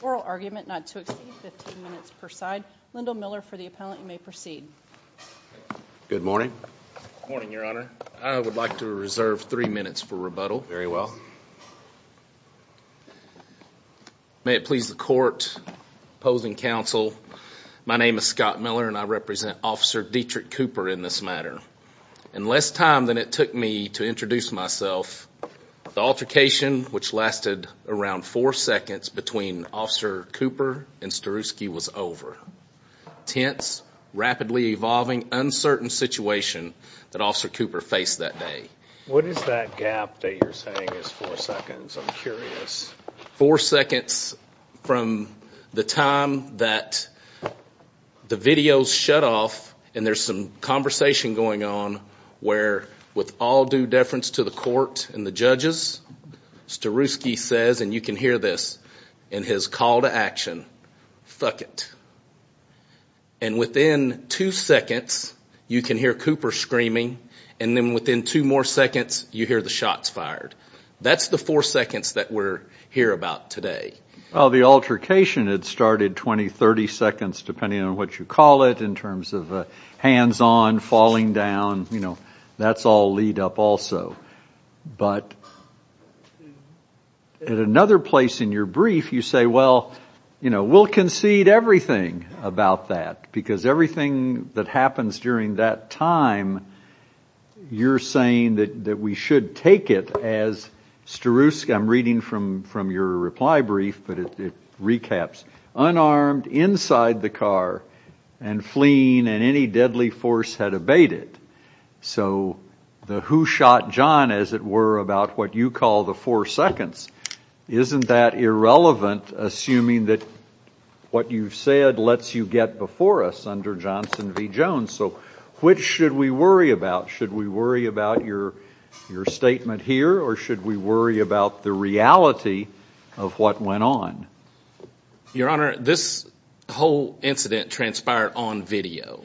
Oral argument not to exceed 15 minutes per side. Lyndall Miller for the appellant. You may proceed. Good morning. Good morning, Your Honor. I would like to reserve three minutes for rebuttal. Very well. May it please the court, opposing counsel, my name is Scott Miller and I represent Officer Detrick Cooper in this matter. And less time than it took me to introduce myself, the altercation which lasted around four seconds between Officer Cooper and Sterusky was over. Tense, rapidly evolving, uncertain situation that Officer Cooper faced that day. What is that gap that you're saying is four seconds? I'm curious. Four seconds from the time that the videos shut off and there's some conversation going on where with all due deference to the court and the judges, Sterusky says, and you can hear this, in his call to action, fuck it. And within two seconds you can hear Cooper screaming and then within two more seconds you hear the shots fired. That's the four seconds that we're here about today. Well, the altercation had started 20, 30 seconds depending on what you call it in terms of hands on, falling down, you know, that's all lead up also. But at another place in your brief you say, well, you know, we'll concede everything about that because everything that happens during that time you're saying that we should take it as Sterusky, I'm reading from your reply brief, but it recaps, unarmed, inside the car and fleeing and any deadly force had abated. So the who shot John, as it were, about what you call the four seconds, isn't that irrelevant assuming that what you've said lets you get before us under Johnson v. Jones? So which should we worry about? Should we worry about your statement here or should we worry about the reality of what went on? Your Honor, this whole incident transpired on video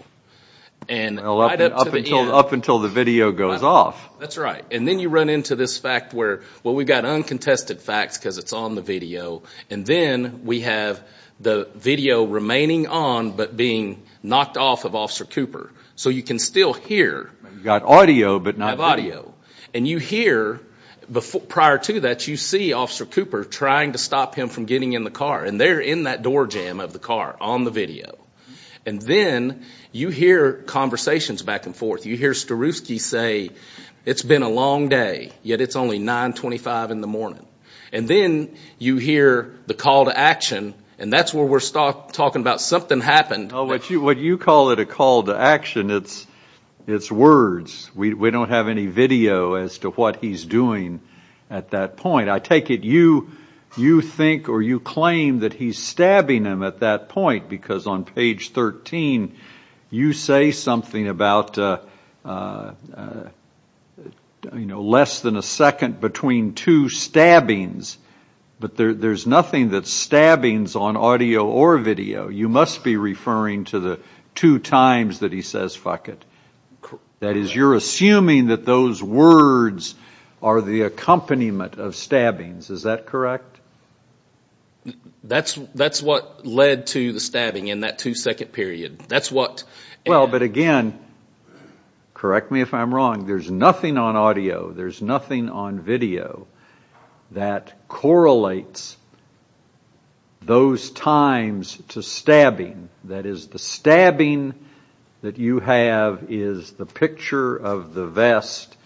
and right up to the end. Up until the video goes off. That's right. And then you run into this fact where, well, we've got uncontested facts because it's on the video and then we have the video remaining on but being knocked off of Officer Cooper. So you can still hear. You've got audio but not video. And you hear, prior to that, you see Officer Cooper trying to stop him from getting in the car and they're in that door jam of the car on the video. And then you hear conversations back and forth. You hear Sterusky say, it's been a long day, yet it's only 925 in the morning. And then you hear the call to action and that's where we're talking about something happened. What you call it a call to action, it's words. We don't have any video as to what he's doing at that point. I take it you think or you claim that he's stabbing him at that point because on page 13, you say something about less than a second between two stabbings but there's nothing that's stabbings on audio or video. You must be referring to the two times that he says fuck it. That is, you're assuming that those words are the accompaniment of stabbings. Is that correct? That's what led to the stabbing in that two second period. That's what... Well, but again, correct me if I'm wrong, there's nothing on audio, there's nothing on video that correlates those times to stabbing. That is, the stabbing that you have is the picture of the vest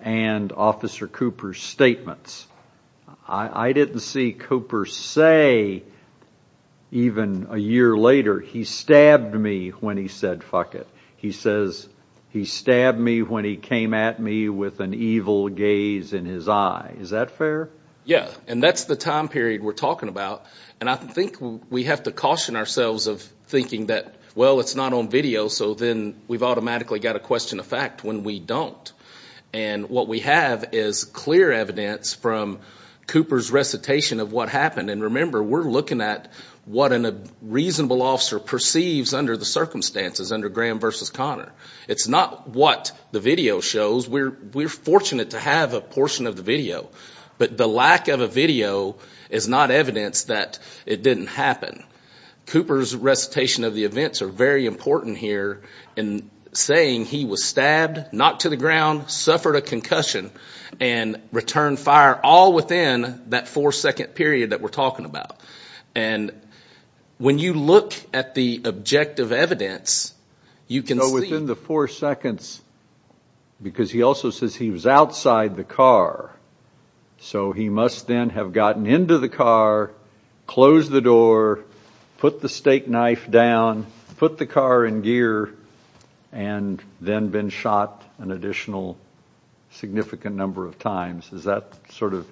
and Officer Cooper's statements. I didn't see Cooper say even a year later, he stabbed me when he said fuck it. He says he stabbed me when he came at me with an evil gaze in his eye. Is that fair? Yeah. And that's the time period we're talking about. And I think we have to caution ourselves of thinking that, well, it's not on video so then we've automatically got to question the fact when we don't. And what we have is clear evidence from Cooper's recitation of what happened. And remember, we're looking at what a reasonable officer perceives under the circumstances, under Graham versus Connor. It's not what the video shows. We're fortunate to have a portion of the video. But the lack of a video is not evidence that it didn't happen. Cooper's recitation of the events are very important here in saying he was stabbed, knocked to the ground, suffered a concussion, and returned fire all within that four second period that we're talking about. And when you look at the objective evidence, you can see... So within the four seconds, because he also says he was outside the car, so he must then have gotten into the car, closed the door, put the steak knife down, put the car in gear, and then been shot an additional significant number of times. Is that sort of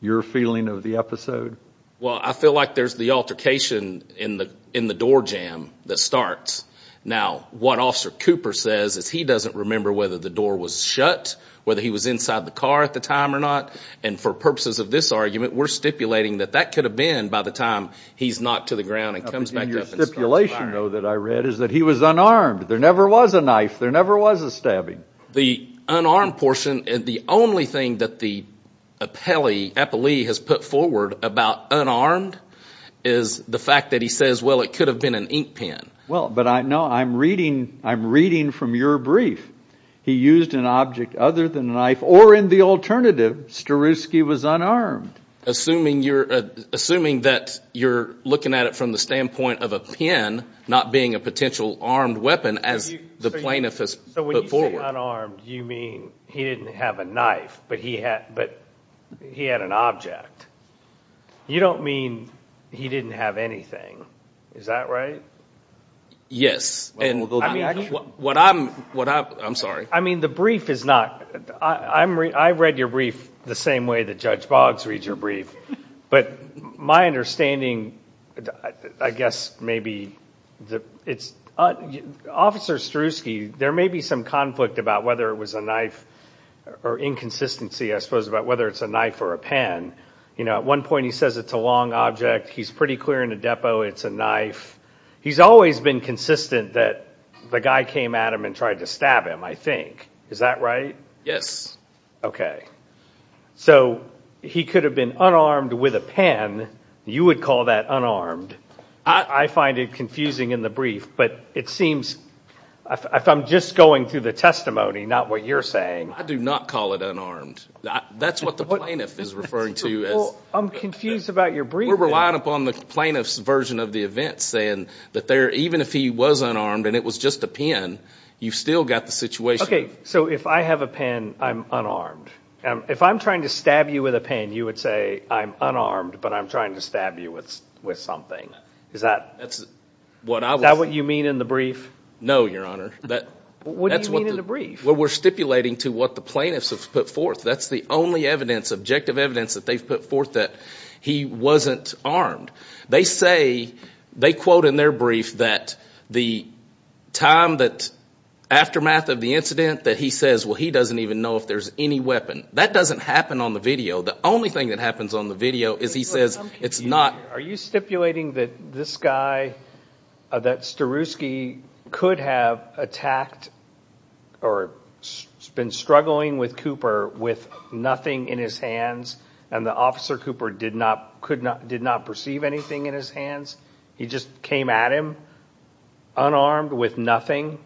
your feeling of the episode? Well, I feel like there's the altercation in the door jam that starts. Now, what Officer Cooper says is he doesn't remember whether the door was shut, whether he was inside the car at the time or not. And for purposes of this argument, we're stipulating that that could have been by the time he's knocked to the ground and comes back up and starts firing. Your stipulation, though, that I read is that he was unarmed. There never was a knife. There never was a stabbing. The unarmed portion, the only thing that the appellee has put forward about unarmed is the fact that he says, well, it could have been an ink pen. Well, but no, I'm reading from your brief. He used an object other than a knife, or in the alternative, Starewski was unarmed. Assuming that you're looking at it from the standpoint of a pen not being a potential armed weapon, as the plaintiff has put forward. So when you say unarmed, you mean he didn't have a knife, but he had an object. You don't mean he didn't have anything. Is that right? Yes. And what I'm, I'm sorry. I mean, the brief is not, I read your brief the same way that Judge Boggs reads your brief, but my understanding, I guess maybe it's, Officer Starewski, there may be some conflict about whether it was a knife or inconsistency, I suppose, about whether it's a knife or a You know, at one point he says it's a long object. He's pretty clear in the depot it's a knife. He's always been consistent that the guy came at him and tried to stab him, I think. Is that right? Yes. Okay. So he could have been unarmed with a pen. You would call that unarmed. I find it confusing in the brief, but it seems, if I'm just going through the testimony, not what you're saying. I do not call it unarmed. That's what the plaintiff is referring to. I'm confused about your brief. We're relying upon the plaintiff's version of the event, saying that there, even if he was unarmed and it was just a pen, you've still got the situation. Okay. So if I have a pen, I'm unarmed. If I'm trying to stab you with a pen, you would say I'm unarmed, but I'm trying to stab you with something. Is that what you mean in the brief? No, Your Honor. What do you mean in the brief? We're stipulating to what the plaintiffs have put forth. That's the only evidence, objective evidence, that they've put forth that he wasn't armed. They say, they quote in their brief that the time that, aftermath of the incident, that he says, well, he doesn't even know if there's any weapon. That doesn't happen on the video. The only thing that happens on the video is he says it's not. Are you stipulating that this guy, that Staruski, could have attacked or been struggling with Cooper with nothing in his hands and the officer Cooper did not perceive anything in his hands? He just came at him unarmed with nothing?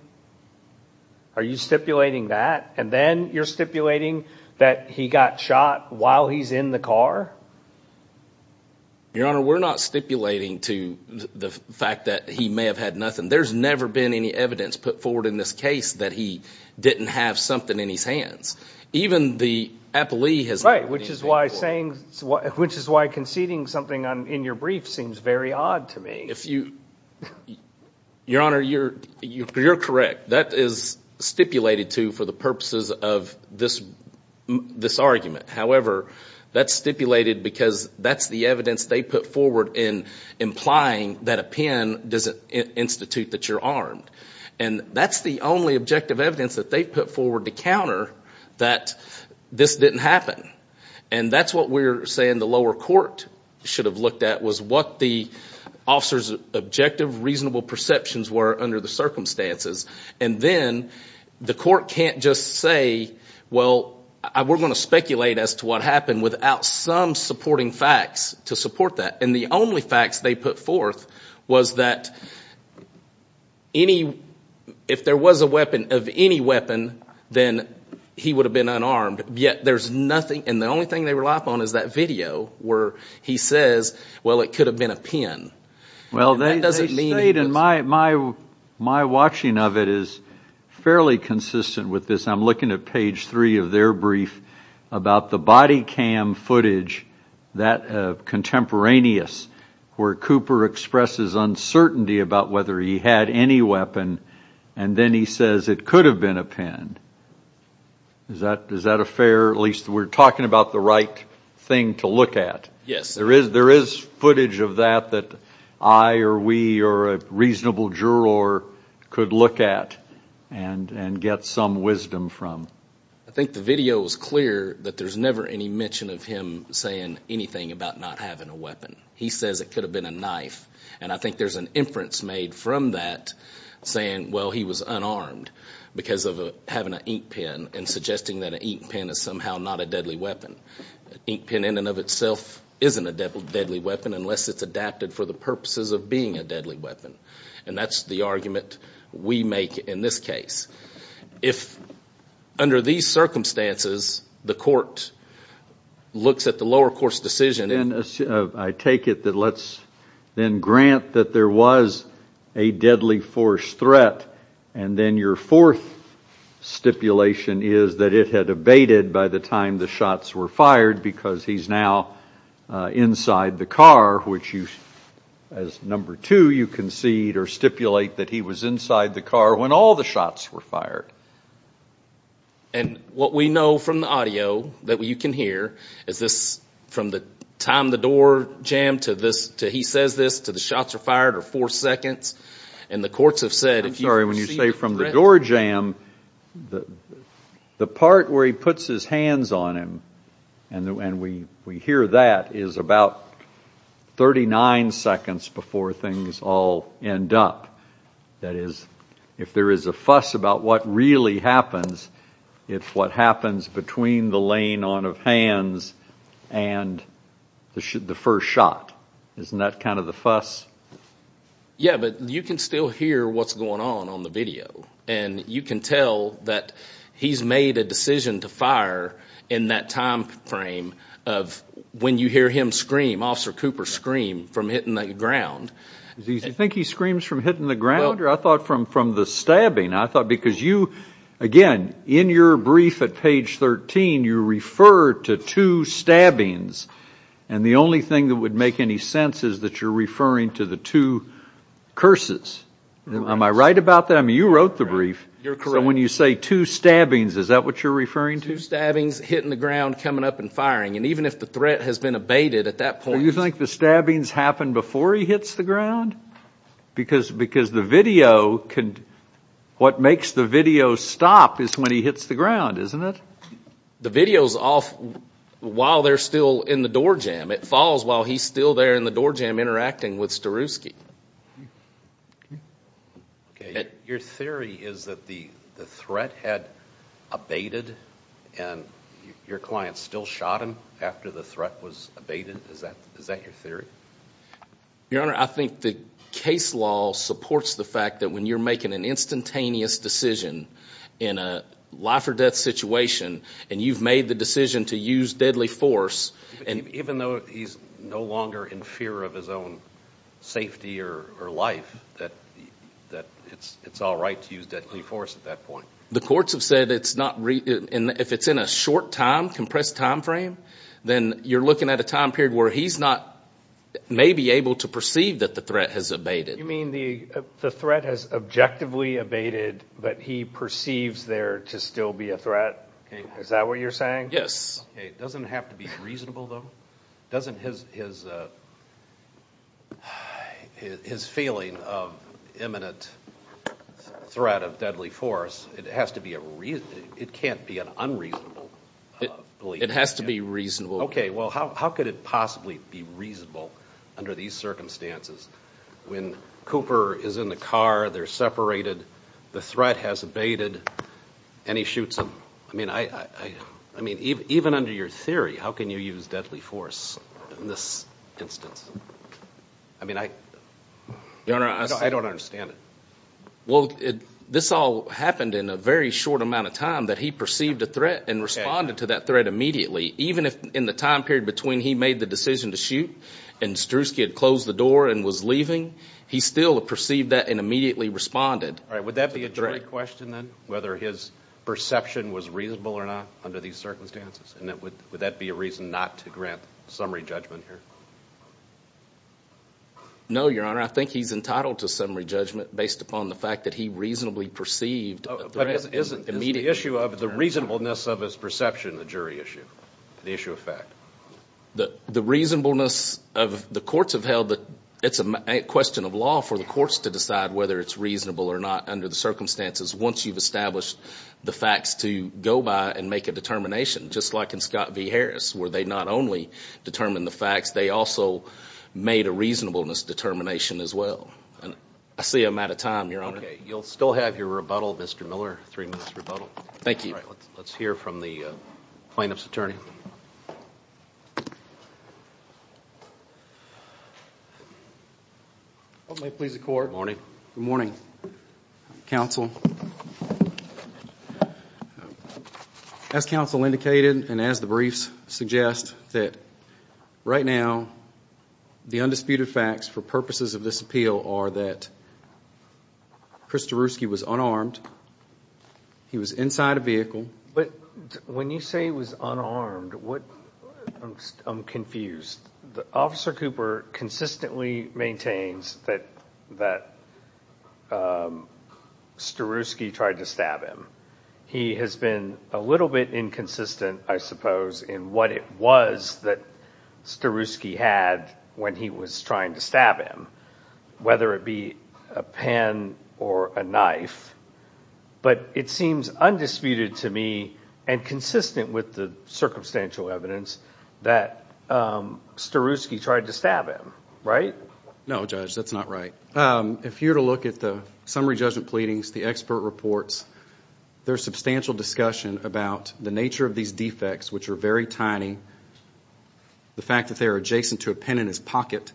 Are you stipulating that? And then you're stipulating that he got shot while he's in the car? Your Honor, we're not stipulating to the fact that he may have had nothing. There's never been any evidence put forward in this case that he didn't have something in his hands. Even the appellee has nothing in his hands. Right, which is why conceding something in your brief seems very odd to me. Your Honor, you're correct. That is stipulated to for the purposes of this argument. However, that's stipulated because that's the evidence they put forward in implying that a pen doesn't institute that you're armed. And that's the only objective evidence that they put forward to counter that this didn't happen. And that's what we're saying the lower court should have looked at was what the officer's objective, reasonable perceptions were under the circumstances. And then the court can't just say, well, we're going to speculate as to what happened without some supporting facts to support that. And the only facts they put forth was that if there was a weapon of any weapon, then he would have been unarmed. Yet there's nothing, and the only thing they rely upon is that video where he says, well, it could have been a pen. And that doesn't mean he was armed. Well, they state, and my watching of it is fairly consistent with this, I'm looking at page three of their brief about the body cam footage, that contemporaneous, where Cooper expresses uncertainty about whether he had any weapon, and then he says it could have been a pen. Is that a fair, at least we're talking about the right thing to look at? Yes. There is footage of that that I or we or a reasonable juror could look at and get some wisdom from. I think the video is clear that there's never any mention of him saying anything about not having a weapon. He says it could have been a knife. And I think there's an inference made from that saying, well, he was unarmed because of having an ink pen and suggesting that an ink pen is somehow not a deadly weapon. An ink pen in and of itself isn't a deadly weapon unless it's adapted for the purposes of being a deadly weapon. And that's the argument we make in this case. If, under these circumstances, the court looks at the lower court's decision, and I take it that let's then grant that there was a deadly force threat, and then your fourth stipulation is that it had abated by the time the shots were fired because he's now inside the car, which you, as number two, you concede or stipulate that he was inside the car when all the shots were fired. And what we know from the audio that you can hear is this, from the time the door jammed to this, to he says this, to the shots are fired are four seconds. And the courts have said... I'm sorry. When you say from the door jam, the part where he puts his hands on him, and we hear that is about 39 seconds before things all end up. That is, if there is a fuss about what really happens, it's what happens between the laying on of hands and the first shot. Isn't that kind of the fuss? Yeah, but you can still hear what's going on on the video. And you can tell that he's made a decision to fire in that time frame of when you hear him scream, Officer Cooper scream, from hitting the ground. Do you think he screams from hitting the ground? I thought from the stabbing. I thought because you, again, in your brief at page 13, you refer to two stabbings. And the only thing that would make any sense is that you're referring to the two curses. Am I right about that? I mean, you wrote the brief. You're correct. So when you say two stabbings, is that what you're referring to? Two stabbings, hitting the ground, coming up and firing. And even if the threat has been abated at that point... Do you think the stabbings happen before he hits the ground? Because the video, what makes the video stop is when he hits the ground, isn't it? The video's off while they're still in the door jam. It falls while he's still there in the door jam interacting with Starewski. Your theory is that the threat had abated and your client still shot him after the threat was abated? Is that your theory? Your Honor, I think the case law supports the fact that when you're making an instantaneous decision in a life or death situation, and you've made the decision to use deadly force... Even though he's no longer in fear of his own safety or life, that it's all right to use deadly force at that point? The courts have said it's not... If it's in a short time, compressed time frame, then you're looking at a time period where he's not maybe able to perceive that the threat has abated. You mean the threat has objectively abated, but he perceives there to still be a threat? Is that what you're saying? Yes. It doesn't have to be reasonable, though. Doesn't his feeling of imminent threat of deadly force, it has to be a reason... It can't be an unreasonable belief. It has to be reasonable. Okay. Well, how could it possibly be reasonable under these circumstances when Cooper is in the car, they're separated, the threat has abated, and he shoots him? I mean, even under your theory, how can you use deadly force in this instance? I mean, I don't understand it. Well, this all happened in a very short amount of time that he perceived a threat and responded to that threat immediately. Even if in the time period between he made the decision to shoot and Strzewski had closed the door and was leaving, he still perceived that and immediately responded to the threat. Is that a jury question then, whether his perception was reasonable or not under these circumstances? And would that be a reason not to grant summary judgment here? No, Your Honor. I think he's entitled to summary judgment based upon the fact that he reasonably perceived the threat immediately. But is the issue of the reasonableness of his perception a jury issue, the issue of fact? The reasonableness of... The courts have held that it's a question of law for the courts to decide whether it's reasonable or not under the circumstances once you've established the facts to go by and make a determination. Just like in Scott v. Harris, where they not only determined the facts, they also made a reasonableness determination as well. I see I'm out of time, Your Honor. Okay. You'll still have your rebuttal, Mr. Miller, three minutes rebuttal. Thank you. All right. Let's hear from the plaintiff's attorney. Oh, may it please the court. Good morning. Good morning, counsel. As counsel indicated, and as the briefs suggest, that right now, the undisputed facts for purposes of this appeal are that Chris Taruski was unarmed. He was inside a vehicle. But when you say he was unarmed, I'm confused. Officer Cooper consistently maintains that Taruski tried to stab him. He has been a little bit inconsistent, I suppose, in what it was that Taruski had when he was trying to stab him, whether it be a pen or a knife. But it seems undisputed to me and consistent with the circumstantial evidence that Taruski tried to stab him, right? No, Judge. That's not right. If you were to look at the summary judgment pleadings, the expert reports, there's substantial discussion about the nature of these defects, which are very tiny, the fact that they are adjacent to a pen in his pocket,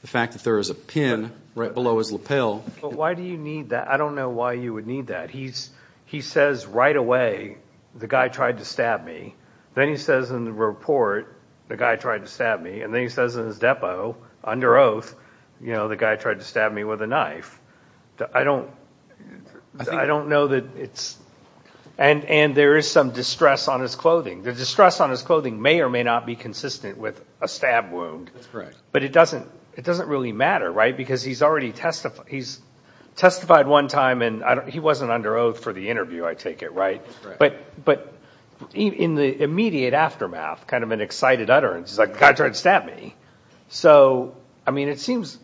the fact that there is a pen right below his lapel. Why do you need that? I don't know why you would need that. He says right away, the guy tried to stab me. Then he says in the report, the guy tried to stab me. And then he says in his depo, under oath, the guy tried to stab me with a knife. I don't know that it's... And there is some distress on his clothing. The distress on his clothing may or may not be consistent with a stab wound. But it doesn't really matter, right? Because he's already testified one time, and he wasn't under oath for the interview, I take it, right? But in the immediate aftermath, kind of an excited utterance, he's like, the guy tried to stab me. So, I mean, it seems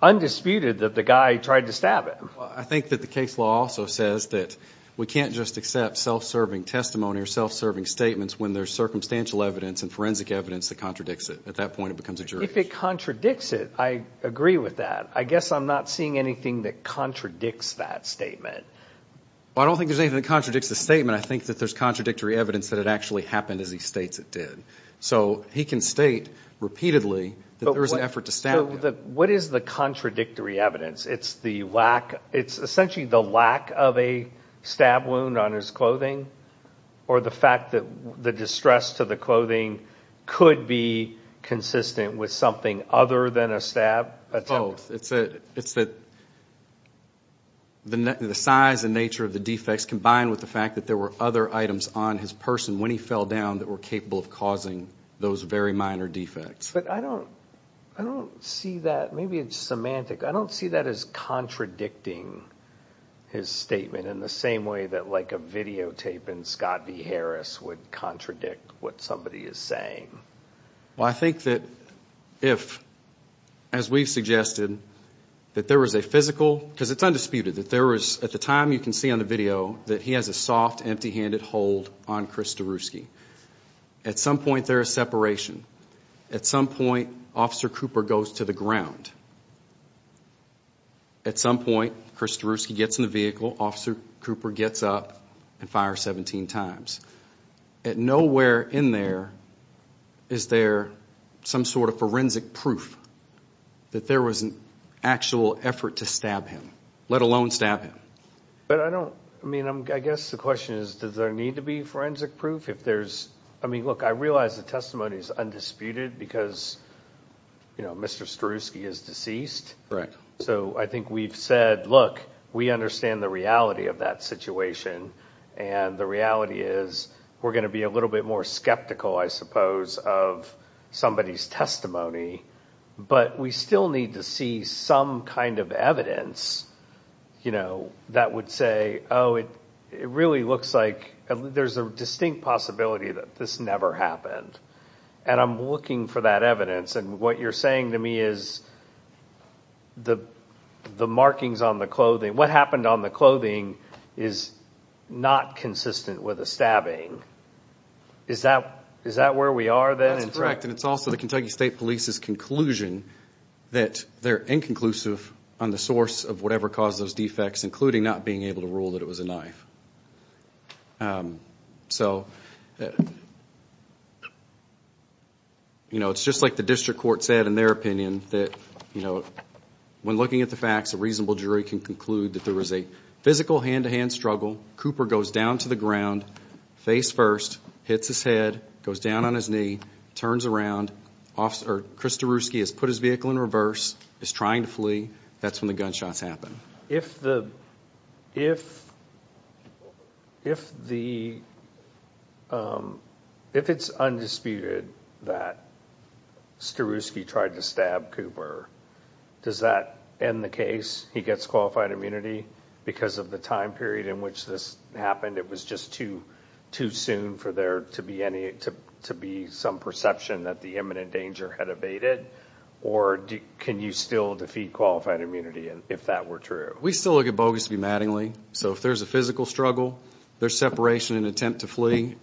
undisputed that the guy tried to stab him. I think that the case law also says that we can't just accept self-serving testimony or self-serving statements when there's circumstantial evidence and forensic evidence that contradicts it. At that point, it becomes a jury. If it contradicts it, I agree with that. I guess I'm not seeing anything that contradicts that statement. Well, I don't think there's anything that contradicts the statement. I think that there's contradictory evidence that it actually happened as he states it did. So, he can state repeatedly that there was an effort to stab him. What is the contradictory evidence? It's the lack... It's essentially the lack of a stab wound on his clothing? Or the fact that the distress to the clothing could be consistent with something other than a stab attempt? Both. It's that the size and nature of the defects combined with the fact that there were other items on his person when he fell down that were capable of causing those very minor defects. But I don't see that... Maybe it's semantic. I don't see that as contradicting his statement in the same way that, like, a videotape in Scott D. Harris would contradict what somebody is saying. Well, I think that if, as we've suggested, that there was a physical... Because it's undisputed that there was, at the time you can see on the video, that he has a soft, empty-handed hold on Chris Daruski. At some point, there is separation. At some point, Officer Cooper goes to the ground. At some point, Chris Daruski gets in the vehicle. Officer Cooper gets up and fires 17 times. Nowhere in there is there some sort of forensic proof that there was an actual effort to stab him, let alone stab him. But I don't... I mean, I guess the question is, does there need to be forensic proof if there's... I mean, look, I realize the testimony is undisputed because, you know, Mr. Daruski is deceased. So I think we've said, look, we understand the reality of that situation. And the reality is, we're going to be a little bit more skeptical, I suppose, of somebody's But we still need to see some kind of evidence, you know, that would say, oh, it really looks like... There's a distinct possibility that this never happened. And I'm looking for that evidence. And what you're saying to me is, the markings on the clothing... What happened on the clothing is not consistent with a stabbing. Is that where we are then? That's correct. And it's also the Kentucky State Police's conclusion that they're inconclusive on the source of whatever caused those defects, including not being able to rule that it was a knife. So, you know, it's just like the district court said in their opinion that, you know, when looking at the facts, a reasonable jury can conclude that there was a physical hand-to-hand struggle. Cooper goes down to the ground, face first, hits his head, goes down on his knee, turns around. Officer Chris Daruski has put his vehicle in reverse, is trying to flee. That's when the gunshots happen. If it's undisputed that Staruski tried to stab Cooper, does that end the case? He gets qualified immunity because of the time period in which this happened? It was just too soon for there to be some perception that the imminent danger had abated? Or can you still defeat qualified immunity if that were true? We still look at Bogus v. Mattingly. So if there's a physical struggle, there's separation and attempt to flee,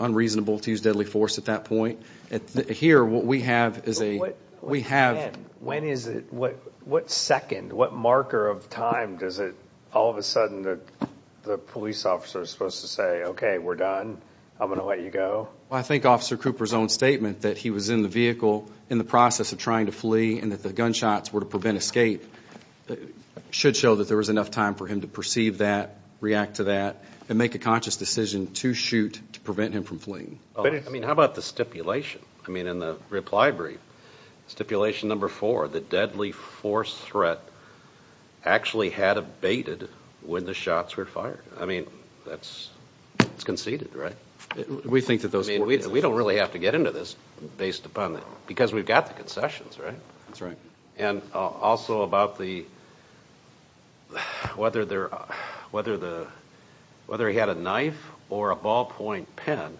unreasonable to use deadly force at that point. Here what we have is a... We have... When is it? What second, what marker of time does it, all of a sudden the police officer is supposed to say, okay, we're done, I'm going to let you go? I think Officer Cooper's own statement that he was in the vehicle in the process of trying to flee and that the gunshots were to prevent escape should show that there was enough time for him to perceive that, react to that, and make a conscious decision to shoot to prevent him from fleeing. How about the stipulation? I mean, in the reply brief, stipulation number four, the deadly force threat actually had abated when the shots were fired. I mean, that's conceded, right? We think that those... I mean, we don't really have to get into this based upon that, because we've got the concessions, right? That's right. And also about the, whether he had a knife or a ballpoint pen.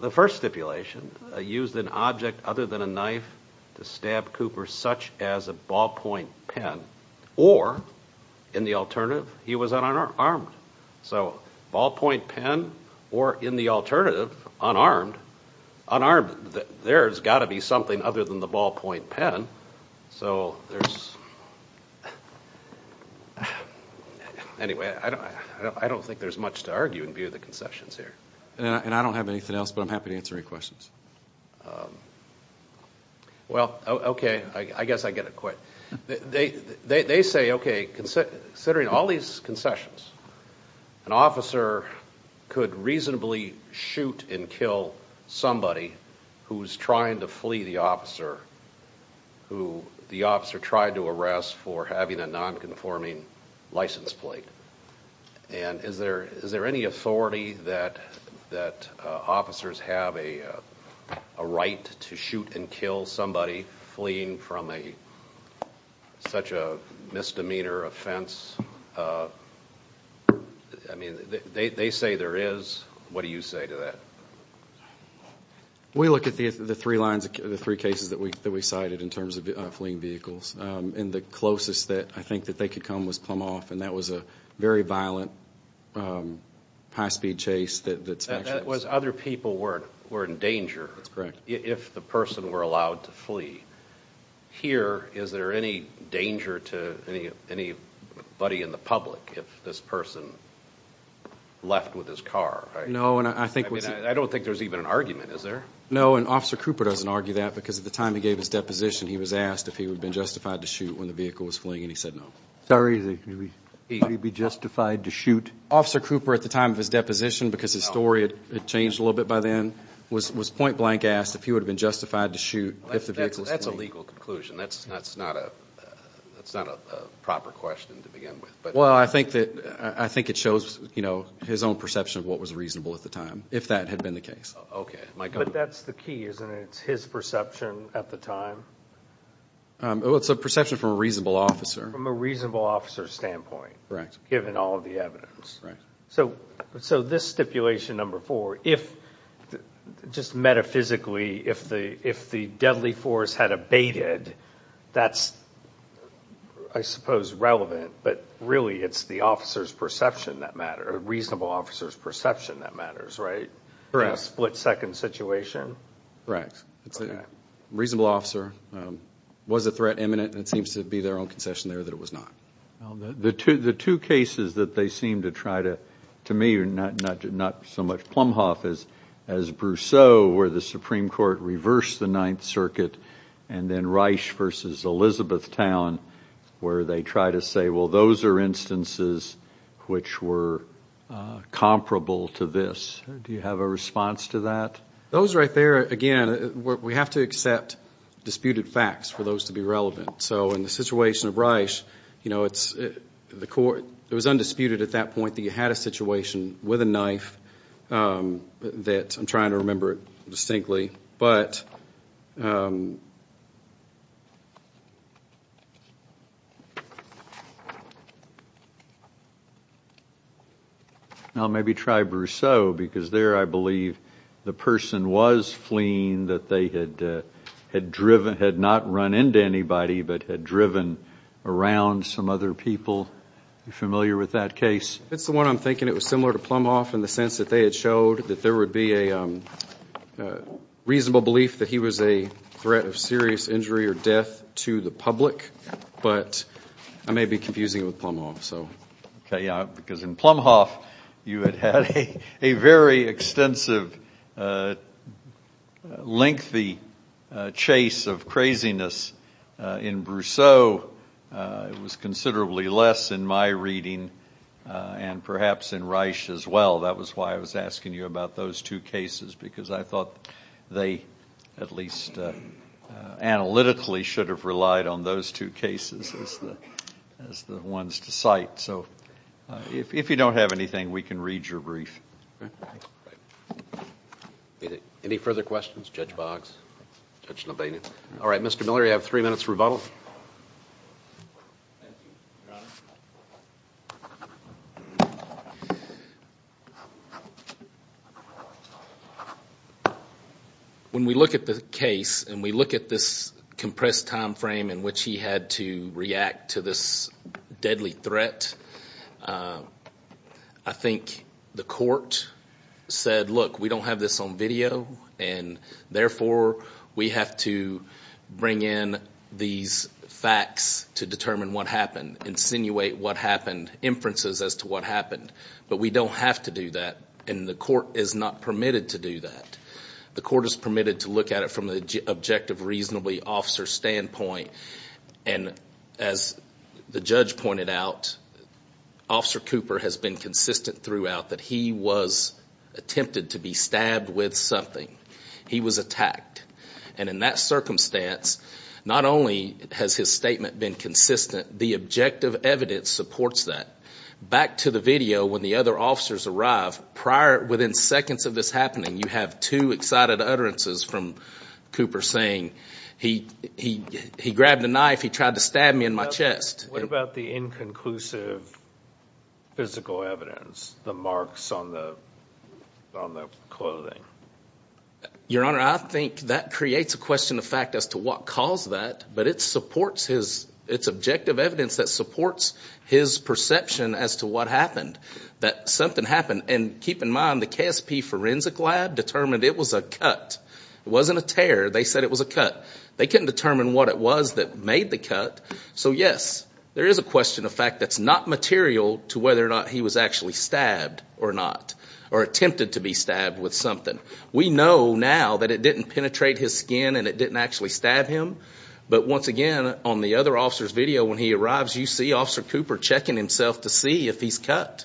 The first stipulation used an object other than a knife to stab Cooper such as a ballpoint pen, or in the alternative, he was unarmed. So ballpoint pen, or in the alternative, unarmed, unarmed. There's got to be something other than the ballpoint pen. So there's, anyway, I don't think there's much to argue in view of the concessions here. And I don't have anything else, but I'm happy to answer any questions. Well, okay. I guess I get it quick. They say, okay, considering all these concessions, an officer could reasonably shoot and kill somebody who's trying to flee the officer, who the officer tried to arrest for having a nonconforming license plate. And is there any authority that officers have a right to shoot and kill somebody fleeing from such a misdemeanor offense? I mean, they say there is. What do you say to that? We look at the three lines, the three cases that we cited in terms of fleeing vehicles, and the closest that I think that they could come was Plum Hoff, and that was a very violent high-speed chase. That was other people who were in danger if the person were allowed to flee. Here, is there any danger to anybody in the public if this person left with his car? No. I don't think there's even an argument, is there? No. And Officer Cooper doesn't argue that because at the time he gave his deposition, he was asked if he would have been justified to shoot when the vehicle was fleeing, and he said no. Sorry, is he going to be justified to shoot? Officer Cooper, at the time of his deposition, because his story had changed a little bit by then, was point-blank asked if he would have been justified to shoot if the vehicle was fleeing. That's a legal conclusion. That's not a proper question to begin with. Well, I think it shows his own perception of what was reasonable at the time, if that had been the case. Okay. Mike? But that's the key, isn't it? It's his perception at the time? Well, it's a perception from a reasonable officer. From a reasonable officer's standpoint, given all of the evidence. So this stipulation number four, if just metaphysically, if the deadly force had abated, that's, I suppose, relevant, but really it's the officer's perception that matters, a reasonable officer's perception that matters, right? In a split-second situation? Correct. It's a reasonable officer. Was a threat imminent? It seems to be their own concession there that it was not. The two cases that they seem to try to, to me, are not so much Plumhoff as Brousseau, where the Supreme Court reversed the Ninth Circuit, and then Reich versus Elizabethtown, where they try to say, well, those are instances which were comparable to this. Do you have a response to that? Those right there, again, we have to accept disputed facts for those to be relevant. So in the situation of Reich, you know, it's, the court, it was undisputed at that point that you had a situation with a knife, that, I'm trying to remember it distinctly, but that, well, maybe try Brousseau, because there, I believe, the person was fleeing, that they had driven, had not run into anybody, but had driven around some other people. Are you familiar with that case? It's the one I'm thinking it was similar to Plumhoff in the sense that they had showed that there would be a reasonable belief that he was a threat of serious injury or death to the public, but I may be confusing it with Plumhoff, so. Okay, because in Plumhoff, you had had a very extensive, lengthy chase of craziness. In Brousseau, it was considerably less in my reading, and perhaps in Reich as well. That was why I was asking you about those two cases, because I thought they, at least analytically, should have relied on those two cases as the ones to cite. So, if you don't have anything, we can read your brief. Any further questions? Judge Boggs? All right, Mr. Miller, you have three minutes for rebuttal. Thank you, Your Honor. When we look at the case, and we look at this compressed time frame in which he had to react to this deadly threat, I think the court said, look, we don't have this on video, and therefore, we have to bring in these facts to determine what happened, insinuate what happened, inferences as to what happened, but we don't have to do that, and the court is not permitted to do that. The court is permitted to look at it from the objective, reasonably officer standpoint, and as the judge pointed out, Officer Cooper has been consistent throughout that he was attempted to be stabbed with something. He was attacked, and in that circumstance, not only has his statement been consistent, the objective evidence supports that. Back to the video when the other officers arrive, prior, within seconds of this happening, you have two excited utterances from Cooper saying, he grabbed a knife, he tried to stab me in my chest. What about the inconclusive physical evidence, the marks on the clothing? Your Honor, I think that creates a question of fact as to what caused that, but it's objective evidence that supports his perception as to what happened, that something happened, and keep in mind, the KSP forensic lab determined it was a cut, it wasn't a tear, they said it was a cut. They couldn't determine what it was that made the cut, so yes, there is a question of fact that's not material to whether or not he was actually stabbed or not, or attempted to be stabbed with something. We know now that it didn't penetrate his skin and it didn't actually stab him, but once again, on the other officer's video when he arrives, you see Officer Cooper checking himself to see if he's cut,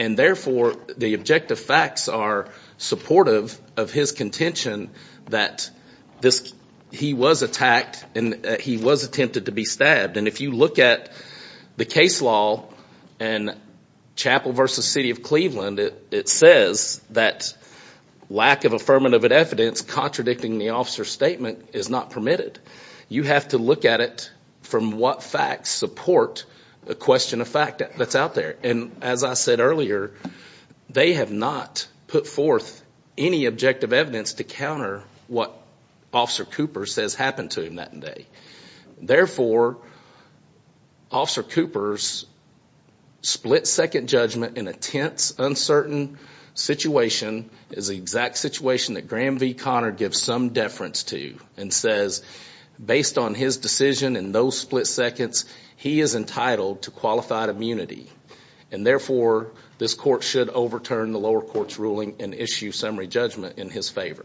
and therefore, the objective facts are supportive of his contention that he was attacked and he was attempted to be stabbed. If you look at the case law in Chapel v. City of Cleveland, it says that lack of affirmative evidence contradicting the officer's statement is not permitted. You have to look at it from what facts support the question of fact that's out there. As I said earlier, they have not put forth any objective evidence to counter what Officer Cooper says happened to him that day. Therefore, Officer Cooper's split-second judgment in a tense, uncertain situation is the exact situation that Graham v. Connor gives some deference to and says, based on his decision in those split-seconds, he is entitled to qualified immunity, and therefore, this court should overturn the lower court's ruling and issue summary judgment in his favor.